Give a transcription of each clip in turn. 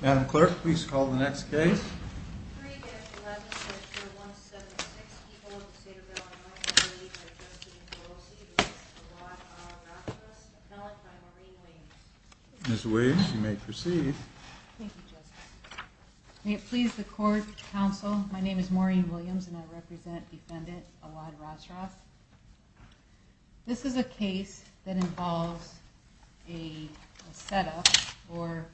Madam Clerk, please call the next case. 3-11, section 176, people of the state of Alabama, I am pleased to be here to address you in courtesy of Justice Elad Rasras, appellant by Maureen Williams. Ms. Williams, you may proceed. Thank you, Justice. May it please the Court, Counsel, my name is Maureen Williams and I represent Defendant Elad Rasras. This is a case that involves a set-up or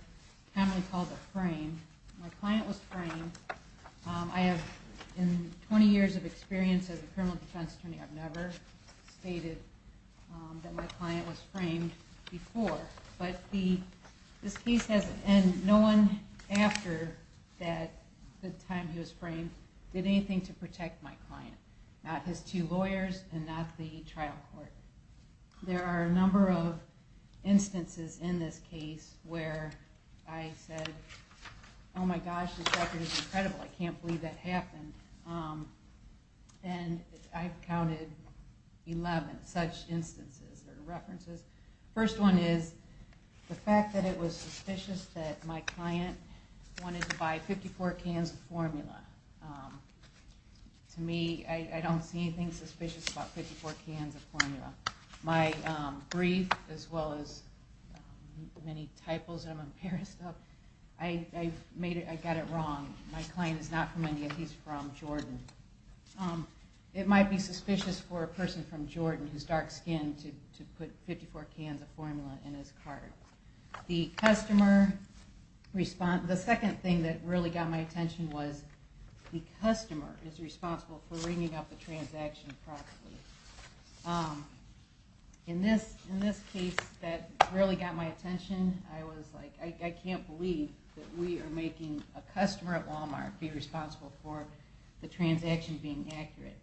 commonly called a frame. My client was framed. I have 20 years of experience as a criminal defense attorney. I've never stated that my client was framed before. But this case has no one after the time he was framed did anything to protect my client. Not his two lawyers and not the trial court. There are a number of instances in this case where I said, oh my gosh, this record is incredible, I can't believe that happened. And I've counted 11 such instances or references. The first one is the fact that it was suspicious that my client wanted to buy 54 cans of formula. To me, I don't see anything suspicious about 54 cans of formula. My brief, as well as many typos that I'm embarrassed of, I got it wrong. My client is not from India, he's from Jordan. It might be suspicious for a person from Jordan who's dark-skinned to put 54 cans of formula in his cart. The second thing that really got my attention was the customer is responsible for ringing up the transaction properly. In this case, that really got my attention. I was like, I can't believe that we are making a customer at Walmart be responsible for the transaction being accurate.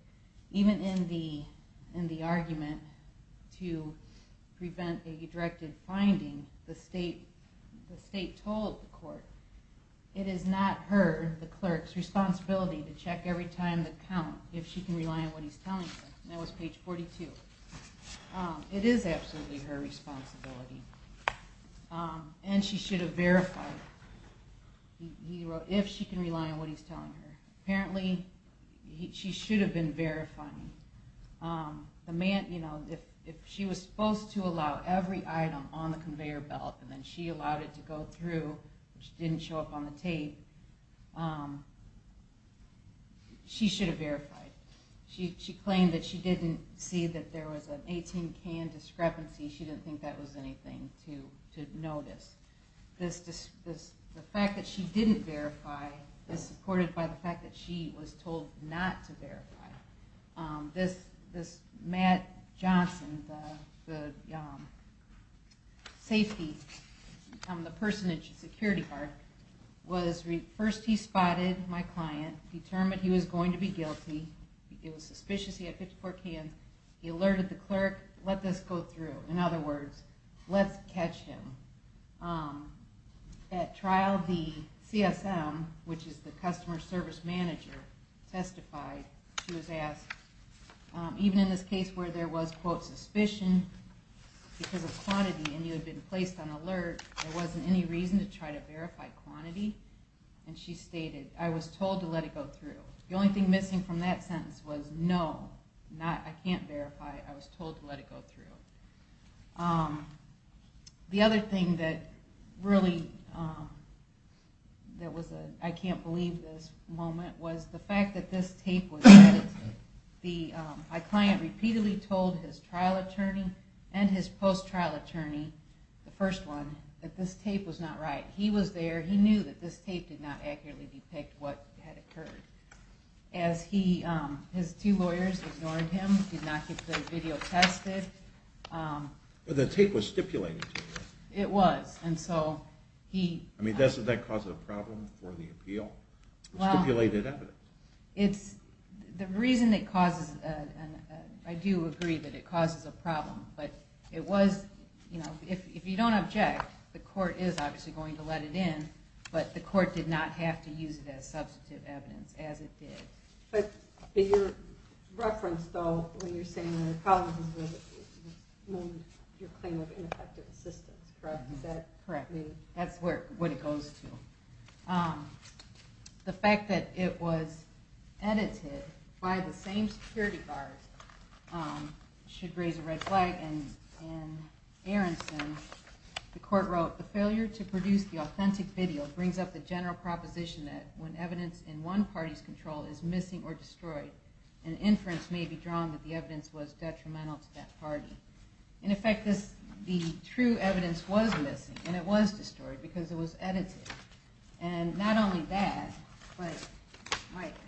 Even in the argument to prevent a directed finding, the state told the court, it is not her, the clerk's responsibility to check every time to count if she can rely on what he's telling her. That was page 42. It is absolutely her responsibility. And she should have verified if she can rely on what he's telling her. Apparently, she should have been verifying. If she was supposed to allow every item on the conveyor belt and then she allowed it to go through, which didn't show up on the tape, she should have verified. She claimed that she didn't see that there was an 18-can discrepancy. She didn't think that was anything to notice. The fact that she didn't verify is supported by the fact that she was told not to verify. This Matt Johnson, the safety person at Security Park, first he spotted my client, determined he was going to be guilty. It was suspicious he had 54 cans. He alerted the clerk, let this go through. In other words, let's catch him. At trial, the CSM, which is the customer service manager, testified. She was asked, even in this case where there was, quote, suspicion because of quantity and you had been placed on alert, there wasn't any reason to try to verify quantity? And she stated, I was told to let it go through. The only thing missing from that sentence was no, I can't verify. I was told to let it go through. The other thing that really, I can't believe this moment, was the fact that this tape was edited. My client repeatedly told his trial attorney and his post-trial attorney, the first one, that this tape was not right. He was there. He knew that this tape did not accurately depict what had occurred. His two lawyers ignored him, did not get the video tested. But the tape was stipulated to you. It was. I mean, doesn't that cause a problem for the appeal? Stipulated evidence. The reason it causes, I do agree that it causes a problem, but if you don't object, the court is obviously going to let it in, but the court did not have to use it as substantive evidence, as it did. But your reference, though, when you're saying that it causes, was your claim of ineffective assistance, correct? Is that correct? That's what it goes to. The fact that it was edited by the same security guards should raise a red flag, and Aronson, the court wrote, the failure to produce the authentic video brings up the general proposition that when evidence in one party's control is missing or destroyed, an inference may be drawn that the evidence was detrimental to that party. In effect, the true evidence was missing, and it was destroyed, because it was edited. And not only that, but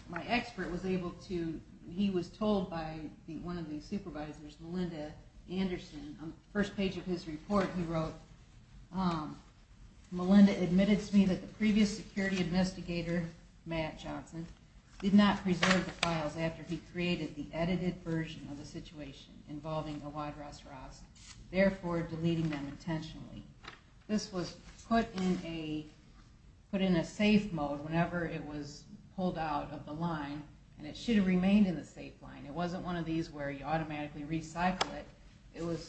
my expert was able to, he was told by one of the supervisors, Melinda Anderson, on the first page of his report he wrote, Melinda admitted to me that the previous security investigator, Matt Johnson, did not preserve the files after he created the edited version of the situation involving Awad Ras Raz, therefore deleting them intentionally. This was put in a safe mode whenever it was pulled out of the line, and it should have remained in the safe line. It wasn't one of these where you automatically recycle it. It was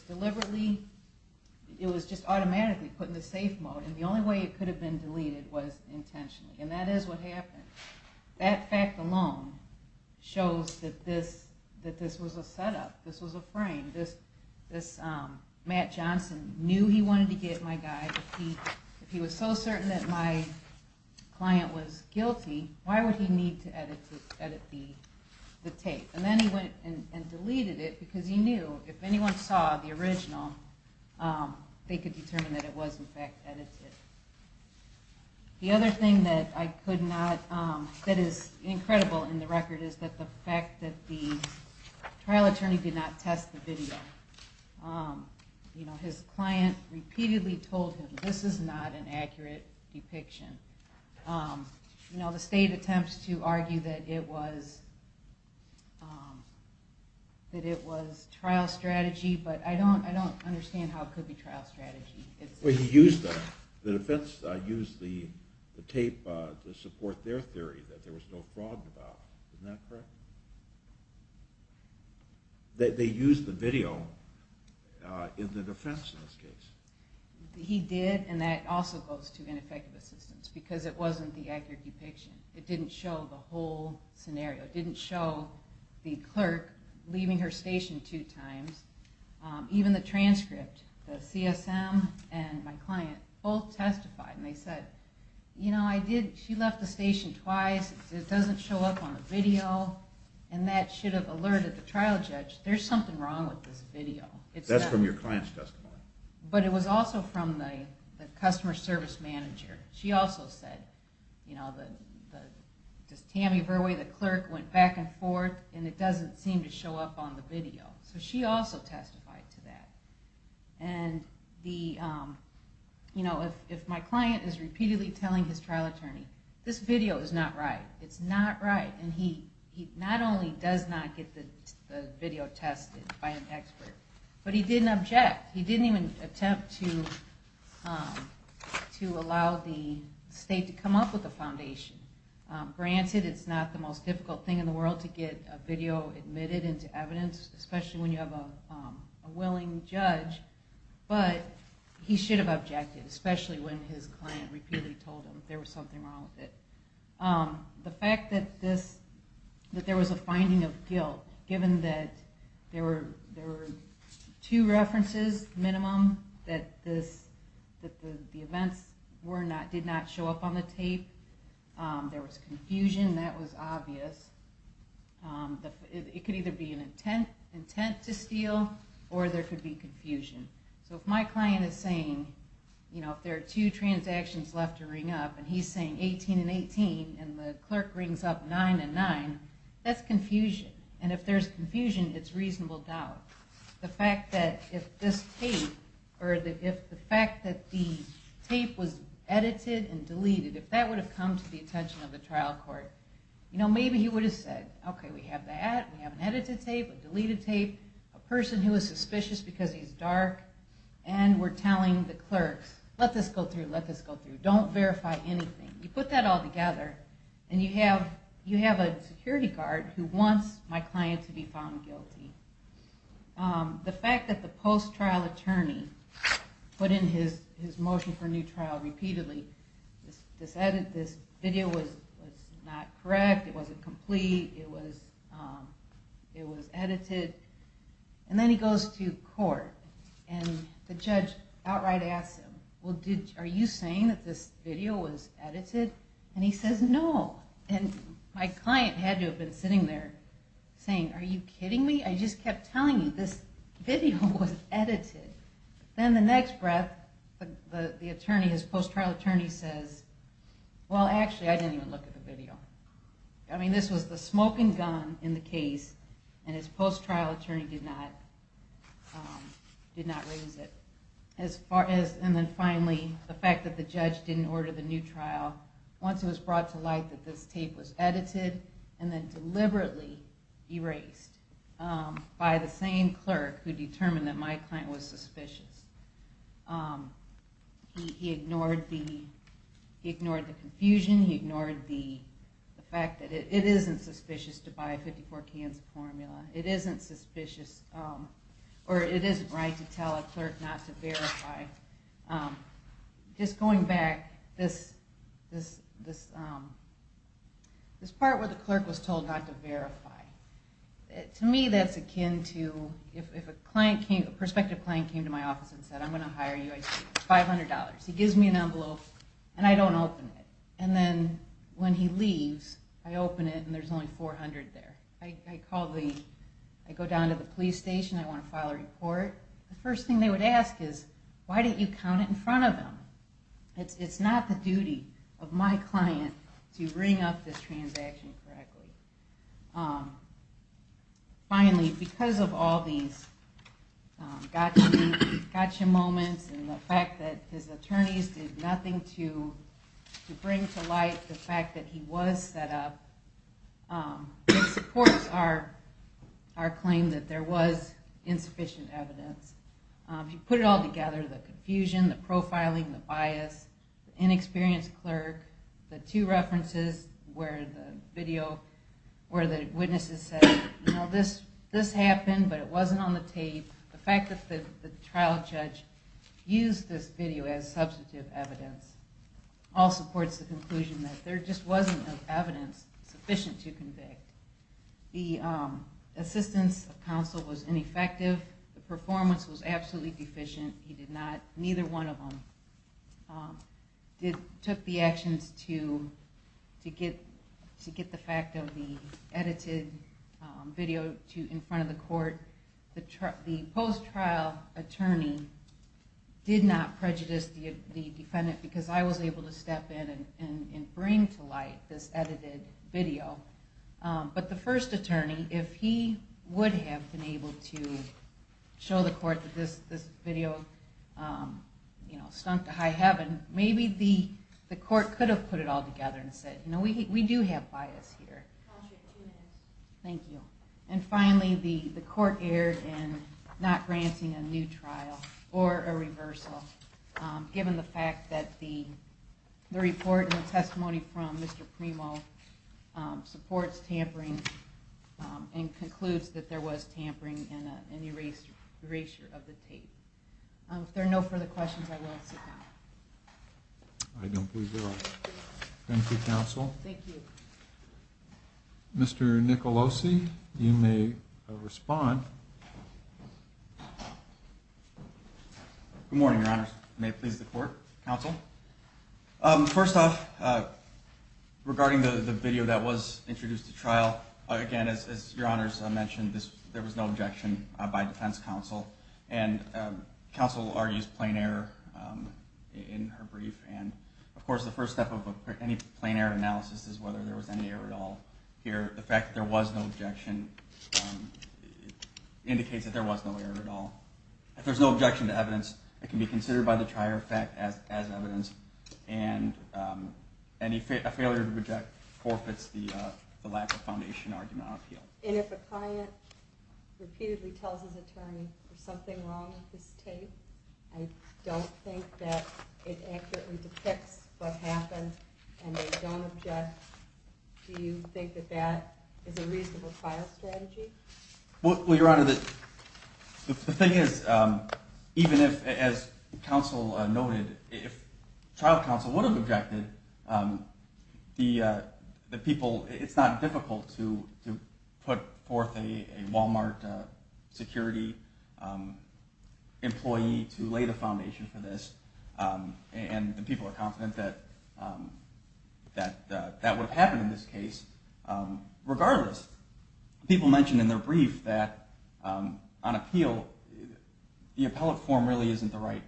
just automatically put in the safe mode, and the only way it could have been deleted was intentionally, and that is what happened. That fact alone shows that this was a setup. This was a frame. Matt Johnson knew he wanted to get my guy. If he was so certain that my client was guilty, why would he need to edit the tape? And then he went and deleted it, because he knew if anyone saw the original, they could determine that it was in fact edited. The other thing that is incredible in the record is the fact that the trial attorney did not test the video. His client repeatedly told him, this is not an accurate depiction. The state attempts to argue that it was trial strategy, but I don't understand how it could be trial strategy. He used the tape to support their theory that there was no fraud involved. Isn't that correct? They used the video in the defense in this case. He did, and that also goes to ineffective assistance, because it wasn't the accurate depiction. It didn't show the whole scenario. It didn't show the clerk leaving her station two times. Even the transcript, the CSM and my client both testified, and they said, she left the station twice, it doesn't show up on the video, and that should have alerted the trial judge, there's something wrong with this video. That's from your client's testimony. But it was also from the customer service manager. She also said, Tammy Verwey, the clerk, went back and forth, and it doesn't seem to show up on the video. So she also testified to that. And if my client is repeatedly telling his trial attorney, this video is not right, it's not right, and he not only does not get the video tested by an expert, but he didn't object. He didn't even attempt to allow the state to come up with a foundation. Granted, it's not the most difficult thing in the world to get a video admitted into evidence, especially when you have a willing judge, but he should have objected, especially when his client repeatedly told him there was something wrong with it. The fact that there was a finding of guilt, given that there were two references, minimum, that the events did not show up on the tape, there was confusion, that was obvious. It could either be an intent to steal, or there could be confusion. So if my client is saying, if there are two transactions left to ring up, and he's saying 18 and 18, and the clerk rings up 9 and 9, that's confusion. And if there's confusion, it's reasonable doubt. The fact that the tape was edited and deleted, if that would have come to the attention of the trial court, maybe he would have said, okay, we have that, we have an edited tape, a deleted tape, a person who is suspicious because he's dark, and we're telling the clerks, let this go through, let this go through. Don't verify anything. You put that all together, and you have a security guard who wants my client to be found guilty. The fact that the post-trial attorney put in his motion for new trial repeatedly, this video was not correct, it wasn't complete, it was edited, and then he goes to court, and the judge outright asks him, well, are you saying that this video was edited? And he says no. And my client had to have been sitting there saying, are you kidding me? I just kept telling you this video was edited. Then the next breath, the attorney, his post-trial attorney says, well, actually, I didn't even look at the video. I mean, this was the smoking gun in the case, and his post-trial attorney did not raise it. And then finally, the fact that the judge didn't order the new trial, once it was brought to light that this tape was edited and then deliberately erased by the same clerk who determined that my client was suspicious, he ignored the confusion, he ignored the fact that it isn't suspicious to buy a 54-cans formula. It isn't suspicious, or it isn't right to tell a clerk not to verify. Just going back, this part where the clerk was told not to verify, to me that's akin to, if a prospective client came to my office and said, I'm going to hire you, I'd say, $500. He gives me an envelope, and I don't open it. And then when he leaves, I open it, and there's only $400 there. I go down to the police station, I want to file a report. The first thing they would ask is, why don't you count it in front of them? It's not the duty of my client to bring up this transaction correctly. Finally, because of all these gotcha moments and the fact that his attorneys did nothing to bring to light the fact that he was set up, it supports our claim that there was insufficient evidence. If you put it all together, the confusion, the profiling, the bias, the inexperienced clerk, the two references where the witnesses said, this happened, but it wasn't on the tape, the fact that the trial judge used this video as substantive evidence, all supports the conclusion that there just wasn't enough evidence sufficient to convict. The assistance of counsel was ineffective. The performance was absolutely deficient. Neither one of them took the actions to get the fact of the edited video in front of the court. The post-trial attorney did not prejudice the defendant because I was able to step in and bring to light this edited video. But the first attorney, if he would have been able to show the court that this video stunk to high heaven, maybe the court could have put it all together and said, we do have bias here. And finally, the court erred in not granting a new trial or a reversal given the fact that the report and the testimony from Mr. Premo supports tampering and concludes that there was tampering in the erasure of the tape. If there are no further questions, I will sit down. I don't believe there are. Thank you, counsel. Thank you. Mr. Nicolosi, you may respond. Good morning, your honors. May it please the court, counsel. First off, regarding the video that was introduced to trial, again, as your honors mentioned, there was no objection by defense counsel. And counsel argues plain error in her brief. And of course, the first step of any plain error analysis is whether there was any error at all here. The fact that there was no objection indicates that there was no error at all. If there's no objection to evidence, it can be considered by the trier of fact as evidence. And a failure to reject forfeits the lack of foundation argument on appeal. And if a client repeatedly tells his attorney there's something wrong with this tape, I don't think that it accurately depicts what happened and they don't object, do you think that that is a reasonable trial strategy? Well, your honor, the thing is, even if, as counsel noted, if trial counsel would have objected, the people... It's not difficult to put forth a Walmart security employee to lay the foundation for this. And the people are confident that that would have happened in this case. Regardless, people mentioned in their brief that on appeal, the appellate forum really isn't the right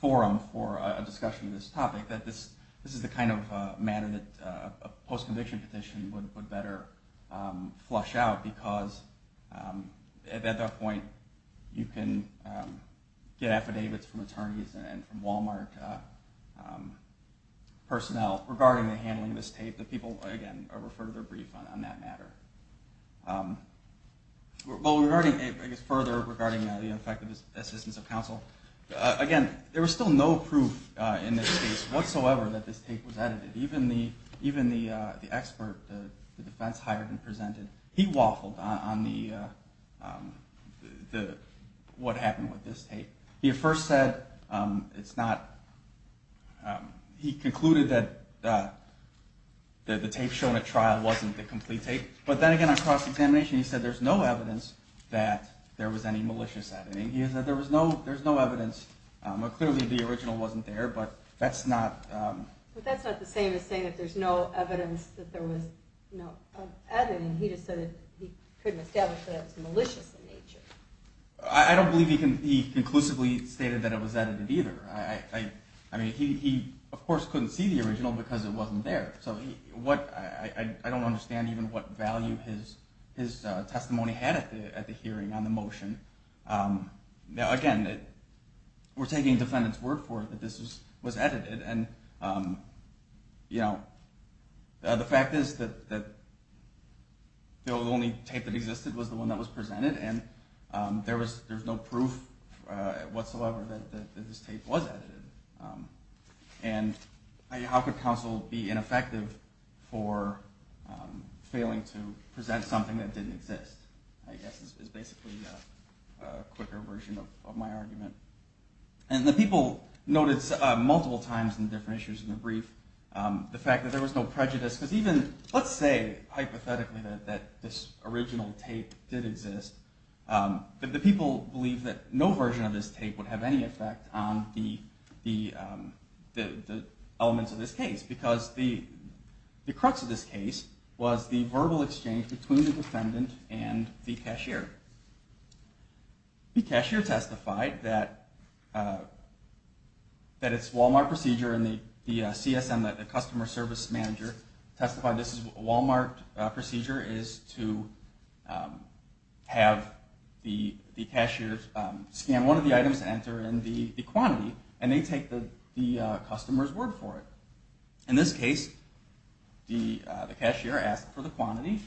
forum for a discussion of this topic, that this is the kind of matter that a post-conviction petition would better flush out because at that point you can get affidavits from attorneys and from Walmart personnel regarding the handling of this tape. The people, again, refer to their brief on that matter. Well, regarding, I guess, further regarding the effective assistance of counsel, again, there was still no proof in this case whatsoever that this tape was edited. Even the expert, the defense hired and presented, he waffled on what happened with this tape. He at first said it's not... He concluded that the tape shown at trial wasn't the complete tape. But then again, on cross-examination, he said there's no evidence that there was any malicious editing. He said there was no evidence. Clearly, the original wasn't there, but that's not... But that's not the same as saying that there's no evidence that there was no editing. He just said he couldn't establish that it was malicious in nature. I don't believe he conclusively stated that it was edited either. I mean, he, of course, couldn't see the original because it wasn't there. So I don't understand even what value his testimony had at the hearing on the motion. Again, we're taking the defendant's word for it that this was edited. And, you know, the fact is that the only tape that existed was the one that was presented, and there was no proof whatsoever that this tape was edited. And how could counsel be ineffective for failing to present something that didn't exist, I guess, is basically a quicker version of my argument. And the people noticed multiple times in different issues in the brief the fact that there was no prejudice. Because even, let's say, hypothetically, that this original tape did exist, the people believed that no version of this tape would have any effect on the elements of this case because the crux of this case was the verbal exchange between the defendant and the cashier. The cashier testified that its Walmart procedure and the CSM, the customer service manager, testified this is a Walmart procedure is to have the cashier scan one of the items to enter and the quantity, and they take the customer's word for it. In this case, the cashier asked for the quantity,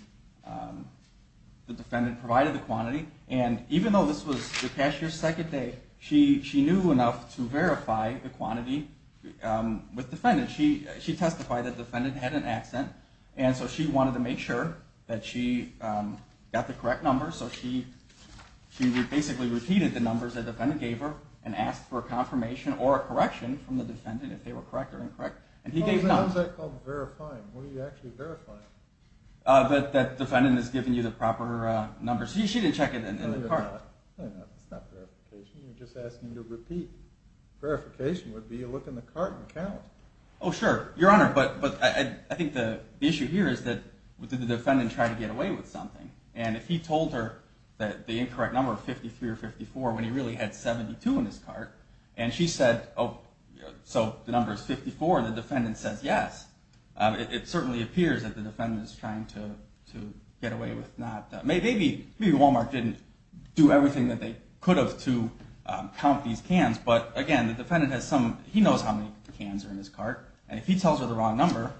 the defendant provided the quantity, and even though this was the cashier's second day, she knew enough to verify the quantity with the defendant. She testified that the defendant had an accent, and so she wanted to make sure that she got the correct number, so she basically repeated the numbers that the defendant gave her and asked for a confirmation or a correction from the defendant if they were correct or incorrect. How is that called verifying? What are you actually verifying? That the defendant has given you the proper numbers. She didn't check it in the cart. That's not verification. You're just asking to repeat. Verification would be to look in the cart and count. Oh, sure, Your Honor, but I think the issue here is that did the defendant try to get away with something? And if he told her that the incorrect number of 53 or 54 when he really had 72 in his cart, and she said, oh, so the number is 54, and the defendant says yes, it certainly appears that the defendant is trying to get away with not that. Maybe Walmart didn't do everything that they could have to count these cans, but again, the defendant has some, he knows how many cans are in his cart, and if he tells her the wrong number,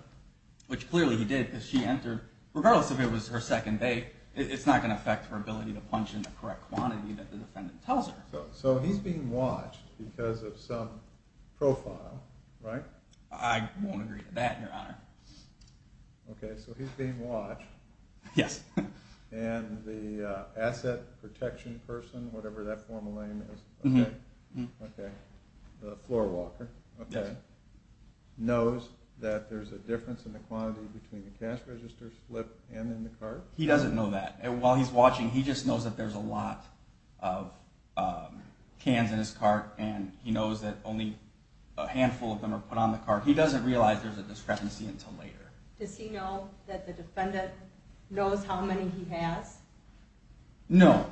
which clearly he did because she entered, regardless if it was her second date, it's not going to affect her ability to punch in the correct quantity that the defendant tells her. So he's being watched because of some profile, right? I won't agree to that, Your Honor. Okay, so he's being watched. Yes. And the asset protection person, whatever that formal name is, okay, the floor walker, okay, knows that there's a difference in the quantity between the cash register slip and in the cart? He doesn't know that. While he's watching, he just knows that there's a lot of cans in his cart, and he knows that only a handful of them are put on the cart. He doesn't realize there's a discrepancy until later. Does he know that the defendant knows how many he has? No.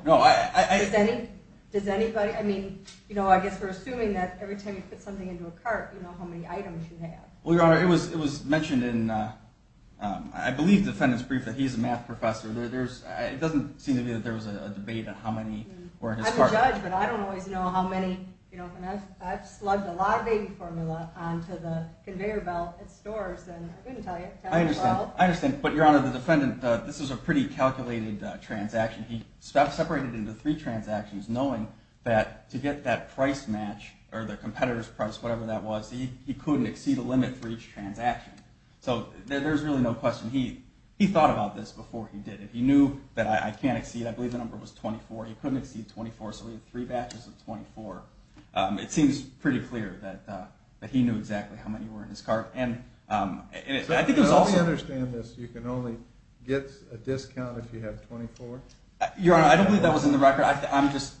Does anybody? I guess we're assuming that every time you put something into a cart, you know how many items you have. Well, Your Honor, it was mentioned in, I believe, the defendant's brief that he's a math professor. It doesn't seem to me that there was a debate on how many were in his cart. I'm a judge, but I don't always know how many. I've slugged a lot of baby formula onto the conveyor belt at stores, and I couldn't tell you how many were out. I understand, but Your Honor, the defendant, this was a pretty calculated transaction. He separated into three transactions knowing that to get that price match or the competitor's price, whatever that was, he couldn't exceed a limit for each transaction. So there's really no question. He thought about this before he did it. He knew that I can't exceed, I believe the number was 24. He couldn't exceed 24, so he had three batches of 24. It seems pretty clear that he knew exactly how many were in his cart. And I think it was also... Let me understand this. You can only get a discount if you have 24? Your Honor, I don't believe that was in the record. I'm just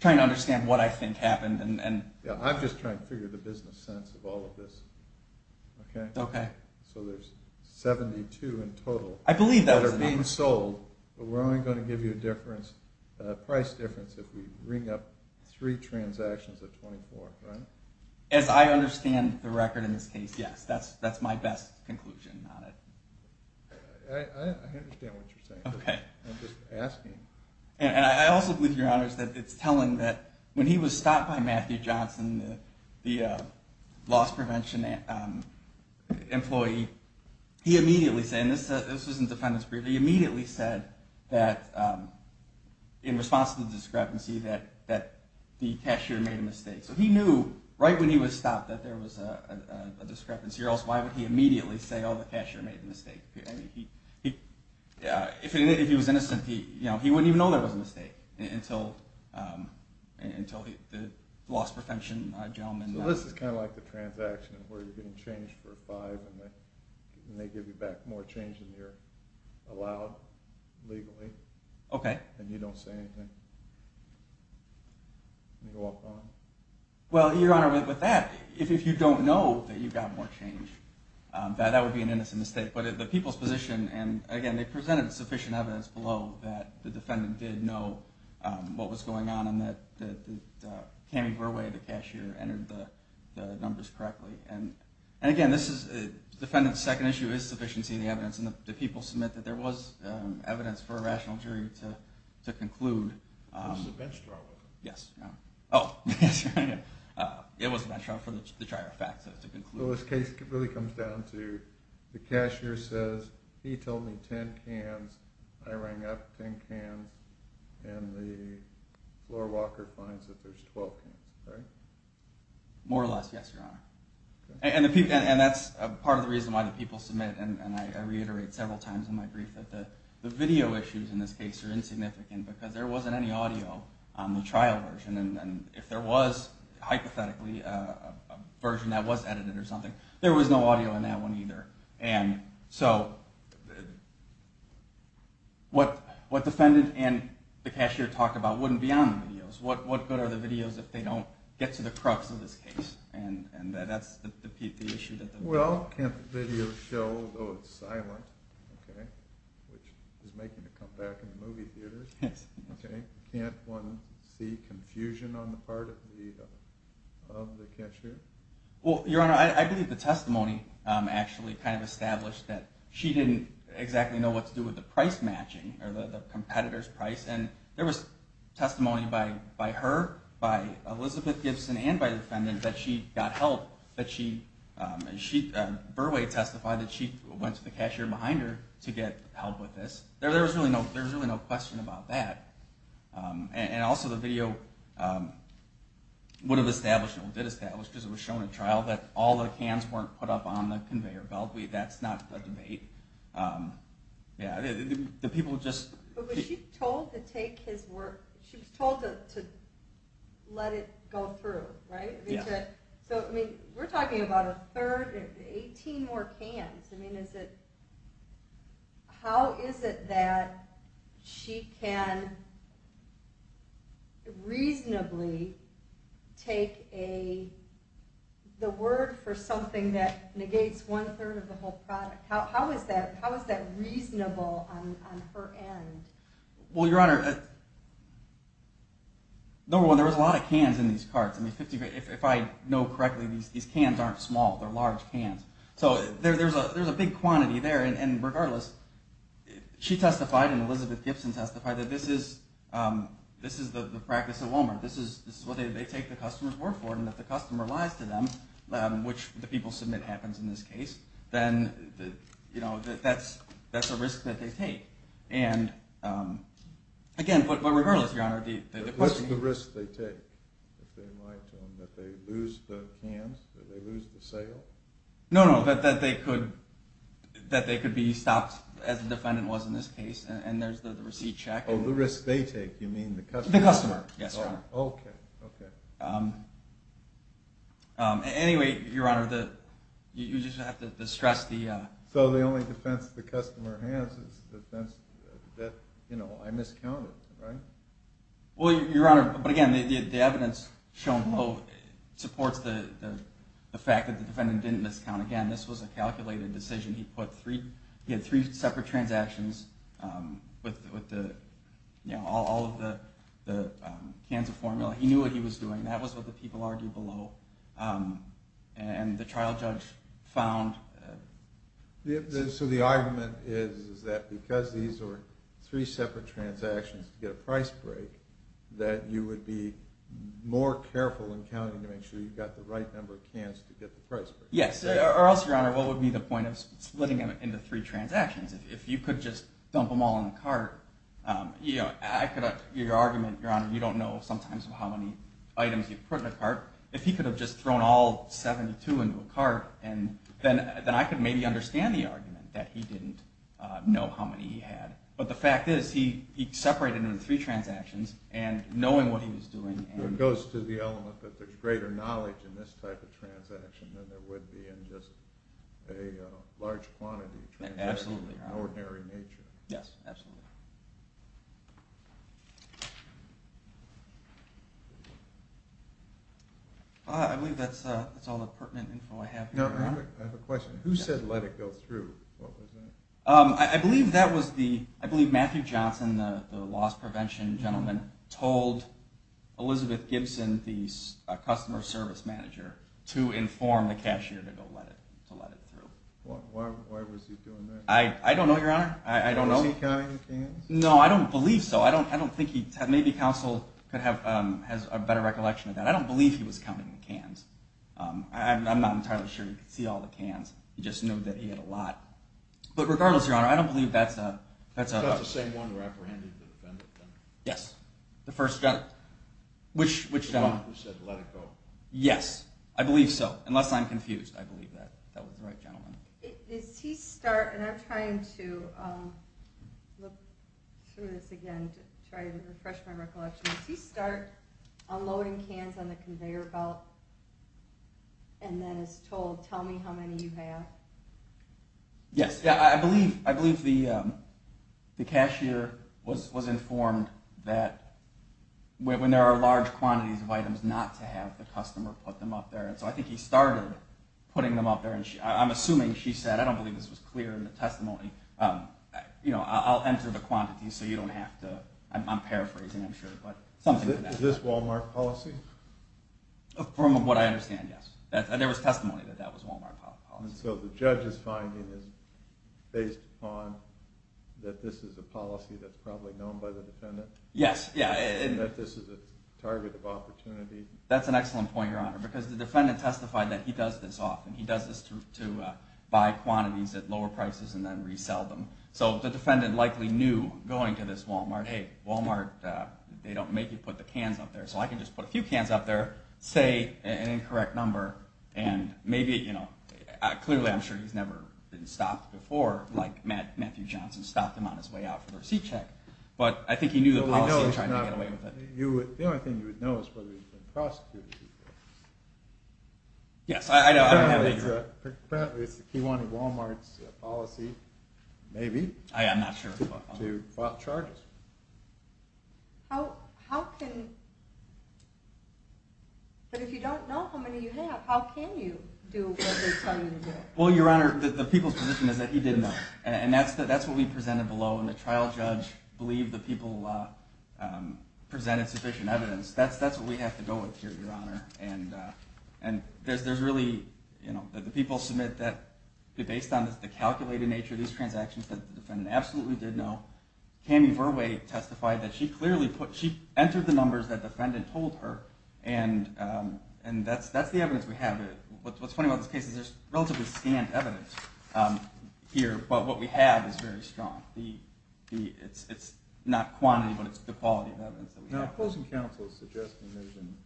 trying to understand what I think happened. Yeah, I'm just trying to figure the business sense of all of this. Okay? Okay. So there's 72 in total. I believe that was the name. It's being sold, but we're only going to give you a price difference if we bring up three transactions of 24, right? As I understand the record in this case, yes. That's my best conclusion on it. I understand what you're saying. Okay. I'm just asking. And I also believe, Your Honor, that it's telling that when he was stopped by Matthew Johnson, the loss prevention employee, he immediately said, and this was in the defendant's brief, he immediately said that in response to the discrepancy that the cashier made a mistake. So he knew right when he was stopped that there was a discrepancy or else why would he immediately say, oh, the cashier made a mistake. If he was innocent, he wouldn't even know there was a mistake until the loss prevention gentleman... So this is kind of like the transaction where you're getting changed for five and they give you back more change than you're allowed legally. Okay. And you don't say anything. Well, Your Honor, with that, if you don't know that you got more change, that would be an innocent mistake. But the people's position, and again, they presented sufficient evidence below that the defendant did know what was going on and that Cami Verwey, the cashier, entered the numbers correctly. And again, the defendant's second issue is sufficiency in the evidence and the people submit that there was evidence for a rational jury to conclude... It was a bench draw. It was a bench draw for the trier of facts to conclude. So this case really comes down to the cashier says, he told me 10 cans, I rang up 10 cans, and the floor walker finds that there's 12 cans. More or less, yes, Your Honor. And that's part of the reason why the people submit, and I reiterate several times in my brief, that the video issues in this case are insignificant because there wasn't any audio on the trial version. And if there was, hypothetically, a version that was edited or something, there was no audio on that one either. And so what the defendant and the cashier talked about wouldn't be on the videos. What good are the videos if they don't get to the crux of this case? And that's the issue. Well, can't the video show, though it's silent, which is making it come back into movie theaters. Yes. Can't one see confusion on the part of the cashier? Well, Your Honor, I believe the testimony actually kind of established that she didn't exactly know what to do with the price matching or the competitor's price. And there was testimony by her, by Elizabeth Gibson, and by the defendant that she got help. Burway testified that she went to the cashier behind her to get help with this. There's really no question about that. And also the video would have established, or did establish, because it was shown at trial, that all the cans weren't put up on the conveyor belt. That's not a debate. The people just... But was she told to take his work? She was told to let it go through, right? So we're talking about a third, 18 more cans. How is it that she can reasonably take the word for something that negates one third of the whole product? take the word for something that negates How is that reasonable on her end? Well, Your Honor, number one, there was a lot of cans in these carts. If I know correctly, these cans aren't small. They're large cans. So there's a big quantity there. And regardless, she testified and Elizabeth Gibson testified that this is the practice at Walmart. This is what they take the customer's word for and if the customer lies to them, which the people submit happens in this case, then that's a risk that they take. Again, but regardless, Your Honor... What's the risk they take? That they lose the cans? That they lose the sale? No, no, that they could be stopped, as the defendant was in this case. And there's the receipt check. Oh, the risk they take, you mean the customer? Yes, Your Honor. Anyway, Your Honor, you just have to stress the... So the only defense the customer has is the defense that I miscounted, right? Well, Your Honor, but again, the evidence shown supports the fact that the defendant didn't miscount. Again, this was a calculated decision. He had three separate transactions with all of the cans of formula. He knew what he was doing. That was what the people argued below. And the trial judge found... So the argument is that because these are three separate transactions to get a price break, that you would be more careful in counting to make sure you've got the right number of cans to get the price break. Yes, or else, Your Honor, what would be the point of splitting them into three transactions? If you could just dump them all in a cart... Your argument, Your Honor, you don't know sometimes how many items you put in a cart. If he could have just thrown all 72 into a cart, then I could maybe understand the argument that he didn't know how many he had. But the fact is, he separated them into three transactions, and knowing what he was doing... It goes to the element that there's greater knowledge in this type of transaction than there would be in just a large quantity of transactions of an ordinary nature. Yes, absolutely. I believe that's all the pertinent info I have. I have a question. Who said, let it go through? I believe Matthew Johnson, the loss prevention gentleman, told Elizabeth Gibson, the customer service manager, to inform the cashier to let it through. Why was he doing that? I don't know, Your Honor. Was he counting the cans? No, I don't believe so. Maybe counsel has a better recollection of that. I don't believe he was counting the cans. I'm not entirely sure he could see all the cans. He just knew that he had a lot. But regardless, Your Honor, I don't believe that's a... The same one who apprehended the defendant? Yes, the first gentleman. The one who said, let it go. Yes, I believe so, unless I'm confused. I believe that was the right gentleman. I'm trying to look through this again to try to refresh my recollection. Did he start unloading cans on the conveyor belt and then is told, tell me how many you have? Yes. I believe the cashier was informed that when there are large quantities of items not to have the customer put them up there. So I think he started putting them up there. I'm assuming she said, I don't believe this was clear in the testimony. I'll enter the quantities so you don't have to... I'm paraphrasing, I'm sure. Is this Wal-Mart policy? From what I understand, yes. There was testimony that that was Wal-Mart policy. So the judge's finding is based on that this is a policy that's probably known by the defendant? Yes. That's an excellent point, Your Honor, because the defendant testified that he does this often. He does this to buy quantities at lower prices and then resell them. So the defendant likely knew going to this Wal-Mart, hey, Wal-Mart, they don't make you put the cans up there. So I can just put a few cans up there, say an incorrect number, and maybe... Clearly, I'm sure he's never been stopped before, like Matthew Johnson stopped him on his way out for the receipt check, but I think he knew the policy and tried to get away with it. The only thing you would know is whether he's been prosecuted. Yes, I know. Apparently, it's the key one of Wal-Mart's policy, maybe, to fault charges. How can... But if you don't know how many you have, how can you do what they tell you to do? Well, Your Honor, the people's position is that he didn't know. And that's what we presented below. And the trial judge believed the people presented sufficient evidence. That's what we have to go with here, Your Honor. And there's really... The people submit that based on the calculated nature of these transactions, the defendant absolutely did know. Cammie Verway testified that she clearly put... She entered the numbers that the defendant told her. And that's the evidence we have. What's funny about this case is there's relatively scant evidence here, but what we have is very strong. It's not quantity, but it's the quality of evidence that we have. Now, opposing counsel is suggesting there's an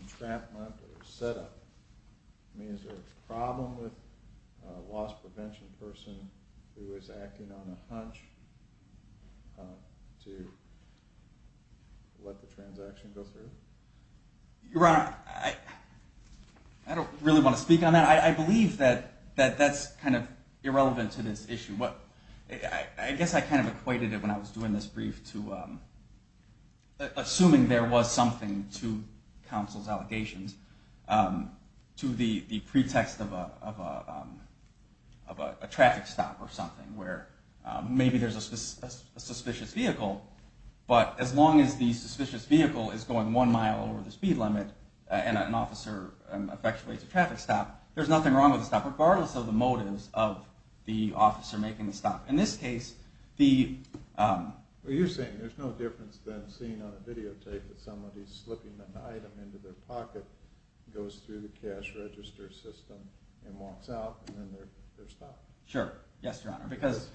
entrapment or setup. I mean, is there a problem with a loss prevention person who is acting on a hunch to let the transaction go through? Your Honor, I don't really want to speak on that. I believe that that's kind of irrelevant to this issue. I guess I kind of equated it when I was doing this brief to assuming there was something to counsel's allegations to the pretext of a traffic stop or something where maybe there's a suspicious vehicle, but as long as the suspicious vehicle is going one mile over the speed limit and an officer effectuates a traffic stop, there's nothing wrong with a stop, regardless of the motives of the officer making the stop. In this case, the... Well, you're saying there's no difference than seeing on a videotape that somebody's slipping an item into their pocket, goes through the cash register system, and walks out, and then they're stopped? Sure. Yes, Your Honor. Because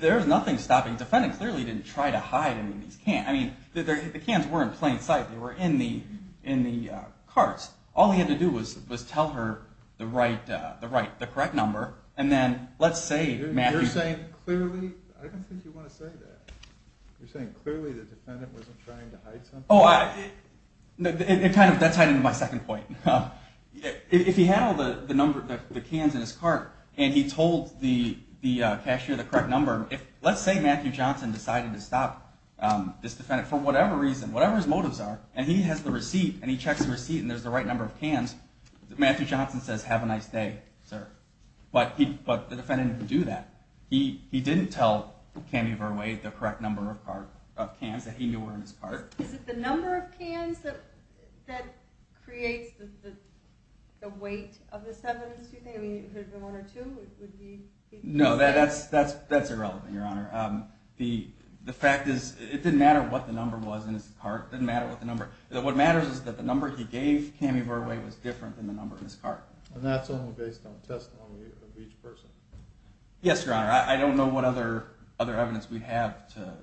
there's nothing stopping... The defendant clearly didn't try to hide any of these cans. I mean, the cans were in plain sight. They were in the carts. All he had to do was tell her the correct number, and then let's say Matthew... I don't think you want to say that. You're saying clearly the defendant wasn't trying to hide something? That's heading to my second point. If he had all the cans in his cart and he told the cashier the correct number, let's say Matthew Johnson decided to stop this defendant for whatever reason, whatever his motives are, and he has the receipt, and he checks the receipt, and there's the right number of cans, Matthew Johnson says, have a nice day, sir. But the defendant didn't do that. He didn't tell Camille Verwey the correct number of cans that he knew were in his cart. Is it the number of cans that creates the weight of the sevens, do you think? I mean, if it was one or two, would he... No, that's irrelevant, Your Honor. The fact is, it didn't matter what the number was in his cart. What matters is that the number he gave Camille Verwey was different than the number in his cart. And that's only based on testimony of each person? Yes, Your Honor. I don't know what other evidence we have to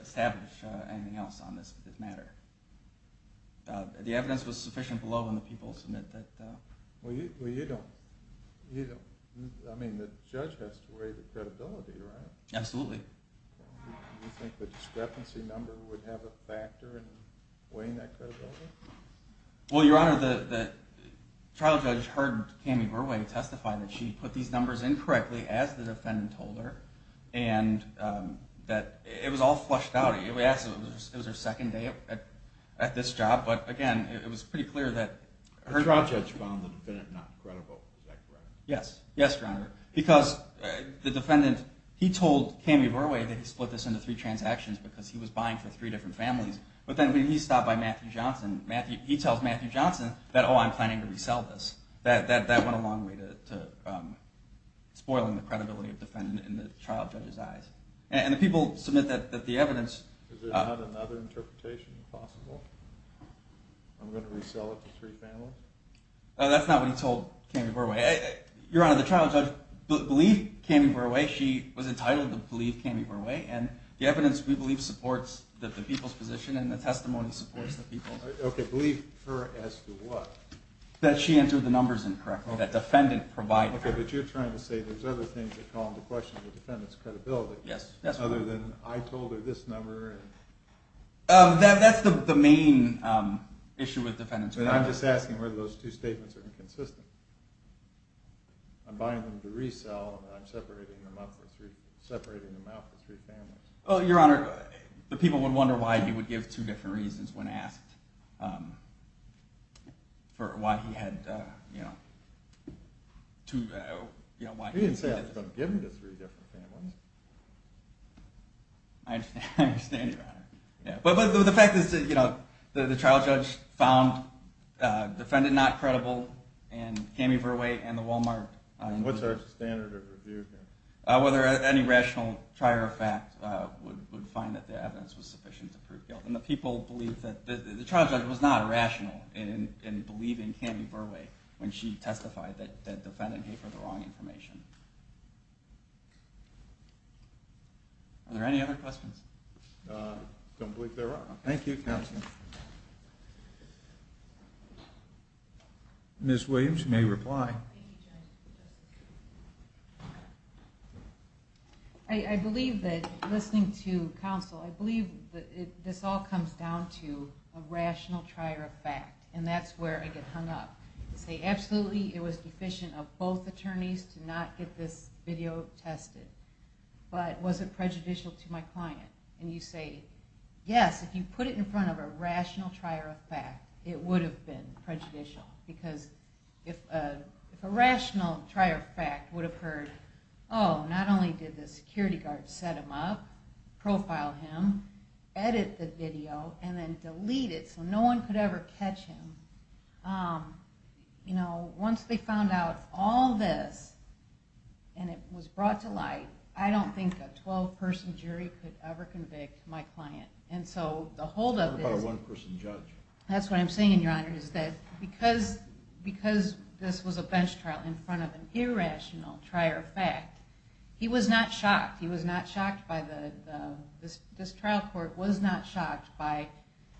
establish anything else on this matter. The evidence was sufficient below when the people submit that... Well, you don't... I mean, the judge has to weigh the credibility, right? Absolutely. Do you think the discrepancy number would have a factor in weighing that credibility? Well, Your Honor, the trial judge heard Camille Verwey testify that she put these numbers in correctly, as the defendant told her, and that it was all flushed out. It was her second day at this job, but again, it was pretty clear that... The trial judge found the defendant not credible, is that correct? Yes, Your Honor, because the defendant, he told Camille Verwey that he split this into three transactions because he was buying for three different families, but then when he stopped by Matthew Johnson, he tells Matthew Johnson that, oh, I'm planning to resell this. That went a long way to spoiling the credibility of the defendant in the trial judge's eyes. And the people submit that the evidence... Is there not another interpretation possible? I'm going to resell it to three families? That's not what he told Camille Verwey. Your Honor, the trial judge believed Camille Verwey. She was entitled to believe Camille Verwey, and the evidence we believe supports the people's position and the testimony supports the people's... Okay, believe her as to what? That she entered the numbers in correctly, that defendant provided her. Okay, but you're trying to say there's other things that call into question the defendant's credibility, other than I told her this number and... That's the main issue with defendants' credibility. I'm just asking whether those two statements are inconsistent. I'm buying them to resell and I'm separating them out for three families. Your Honor, the people would wonder why he would give two different reasons when asked for why he had, you know, He didn't say I was going to give them to three different families. I understand, Your Honor. But the fact is that the trial judge found the defendant not credible and Camille Verwey and the Walmart... What's their standard of review? Whether any rational prior fact would find that the evidence was sufficient to prove guilt. The trial judge was not rational in believing Camille Verwey when she testified that the defendant gave her the wrong information. Are there any other questions? I don't believe there are. Thank you, counsel. Ms. Williams, you may reply. I believe that, listening to counsel, I believe that this all comes down to a rational prior fact. And that's where I get hung up. You say, absolutely, it was deficient of both attorneys to not get this video tested. But was it prejudicial to my client? And you say, yes, if you put it in front of a rational prior fact, it would have been prejudicial. Because if a rational prior fact would have heard, oh, not only did the security guard set him up, profile him, edit the video, and then delete it so no one could ever catch him, once they found out all this and it was brought to light, I don't think a 12-person jury could ever convict my client. What about a one-person judge? That's what I'm saying, Your Honor. Because this was a bench trial in front of an irrational prior fact, he was not shocked. This trial court was not shocked by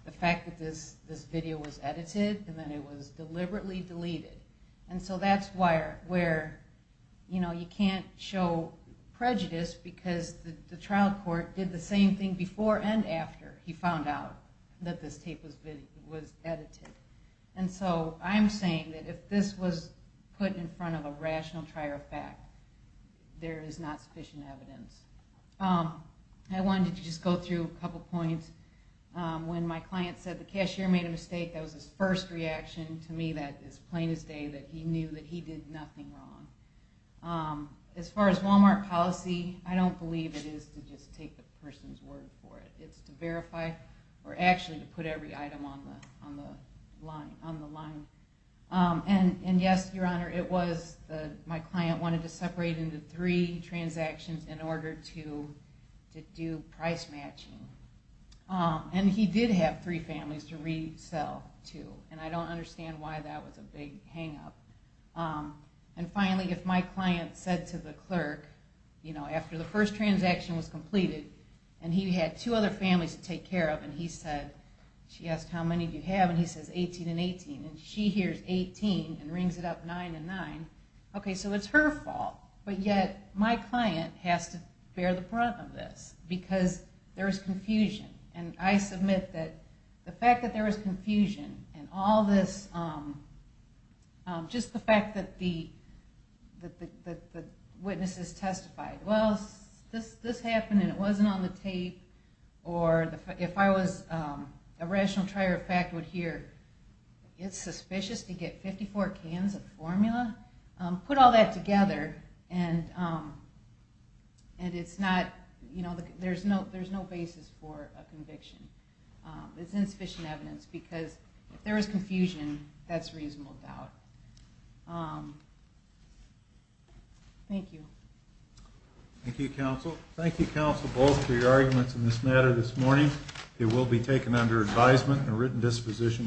the fact that this video was edited and that it was deliberately deleted. And so that's where you can't show prejudice because the trial court did the same thing before and after he found out that this tape was edited. And so I'm saying that if this was put in front of a rational prior fact, there is not sufficient evidence. I wanted to just go through a couple points. When my client said the cashier made a mistake, that was his first reaction to me that is plain as day that he knew that he did nothing wrong. As far as Walmart policy, I don't believe it is to just take the person's word for it. It's to verify, or actually to put every item on the line. And yes, Your Honor, my client wanted to separate into three transactions in order to do price matching. And he did have three families to resell to. And I don't understand why that was a big hang up. And finally, if my client said to the clerk after the first transaction was completed and he had two other families to take care of and he said, she asked how many do you have and he said 18 and 18, and she hears 18 and rings it up to 9 and 9, okay, so it's her fault. But yet, my client has to bear the brunt of this. Because there is confusion. And I submit that the fact that there is confusion and all this, just the fact that the witnesses testified, well, this happened and it wasn't on the tape or if I was a rational trier of fact would hear it's suspicious to get 54 cans of formula? Put all that together and it's not there's no basis for a conviction. It's insufficient evidence because if there is confusion, that's reasonable doubt. Thank you. Thank you, counsel. Thank you, counsel, both for your arguments in this matter this morning. It will be taken under advisement and written disposition.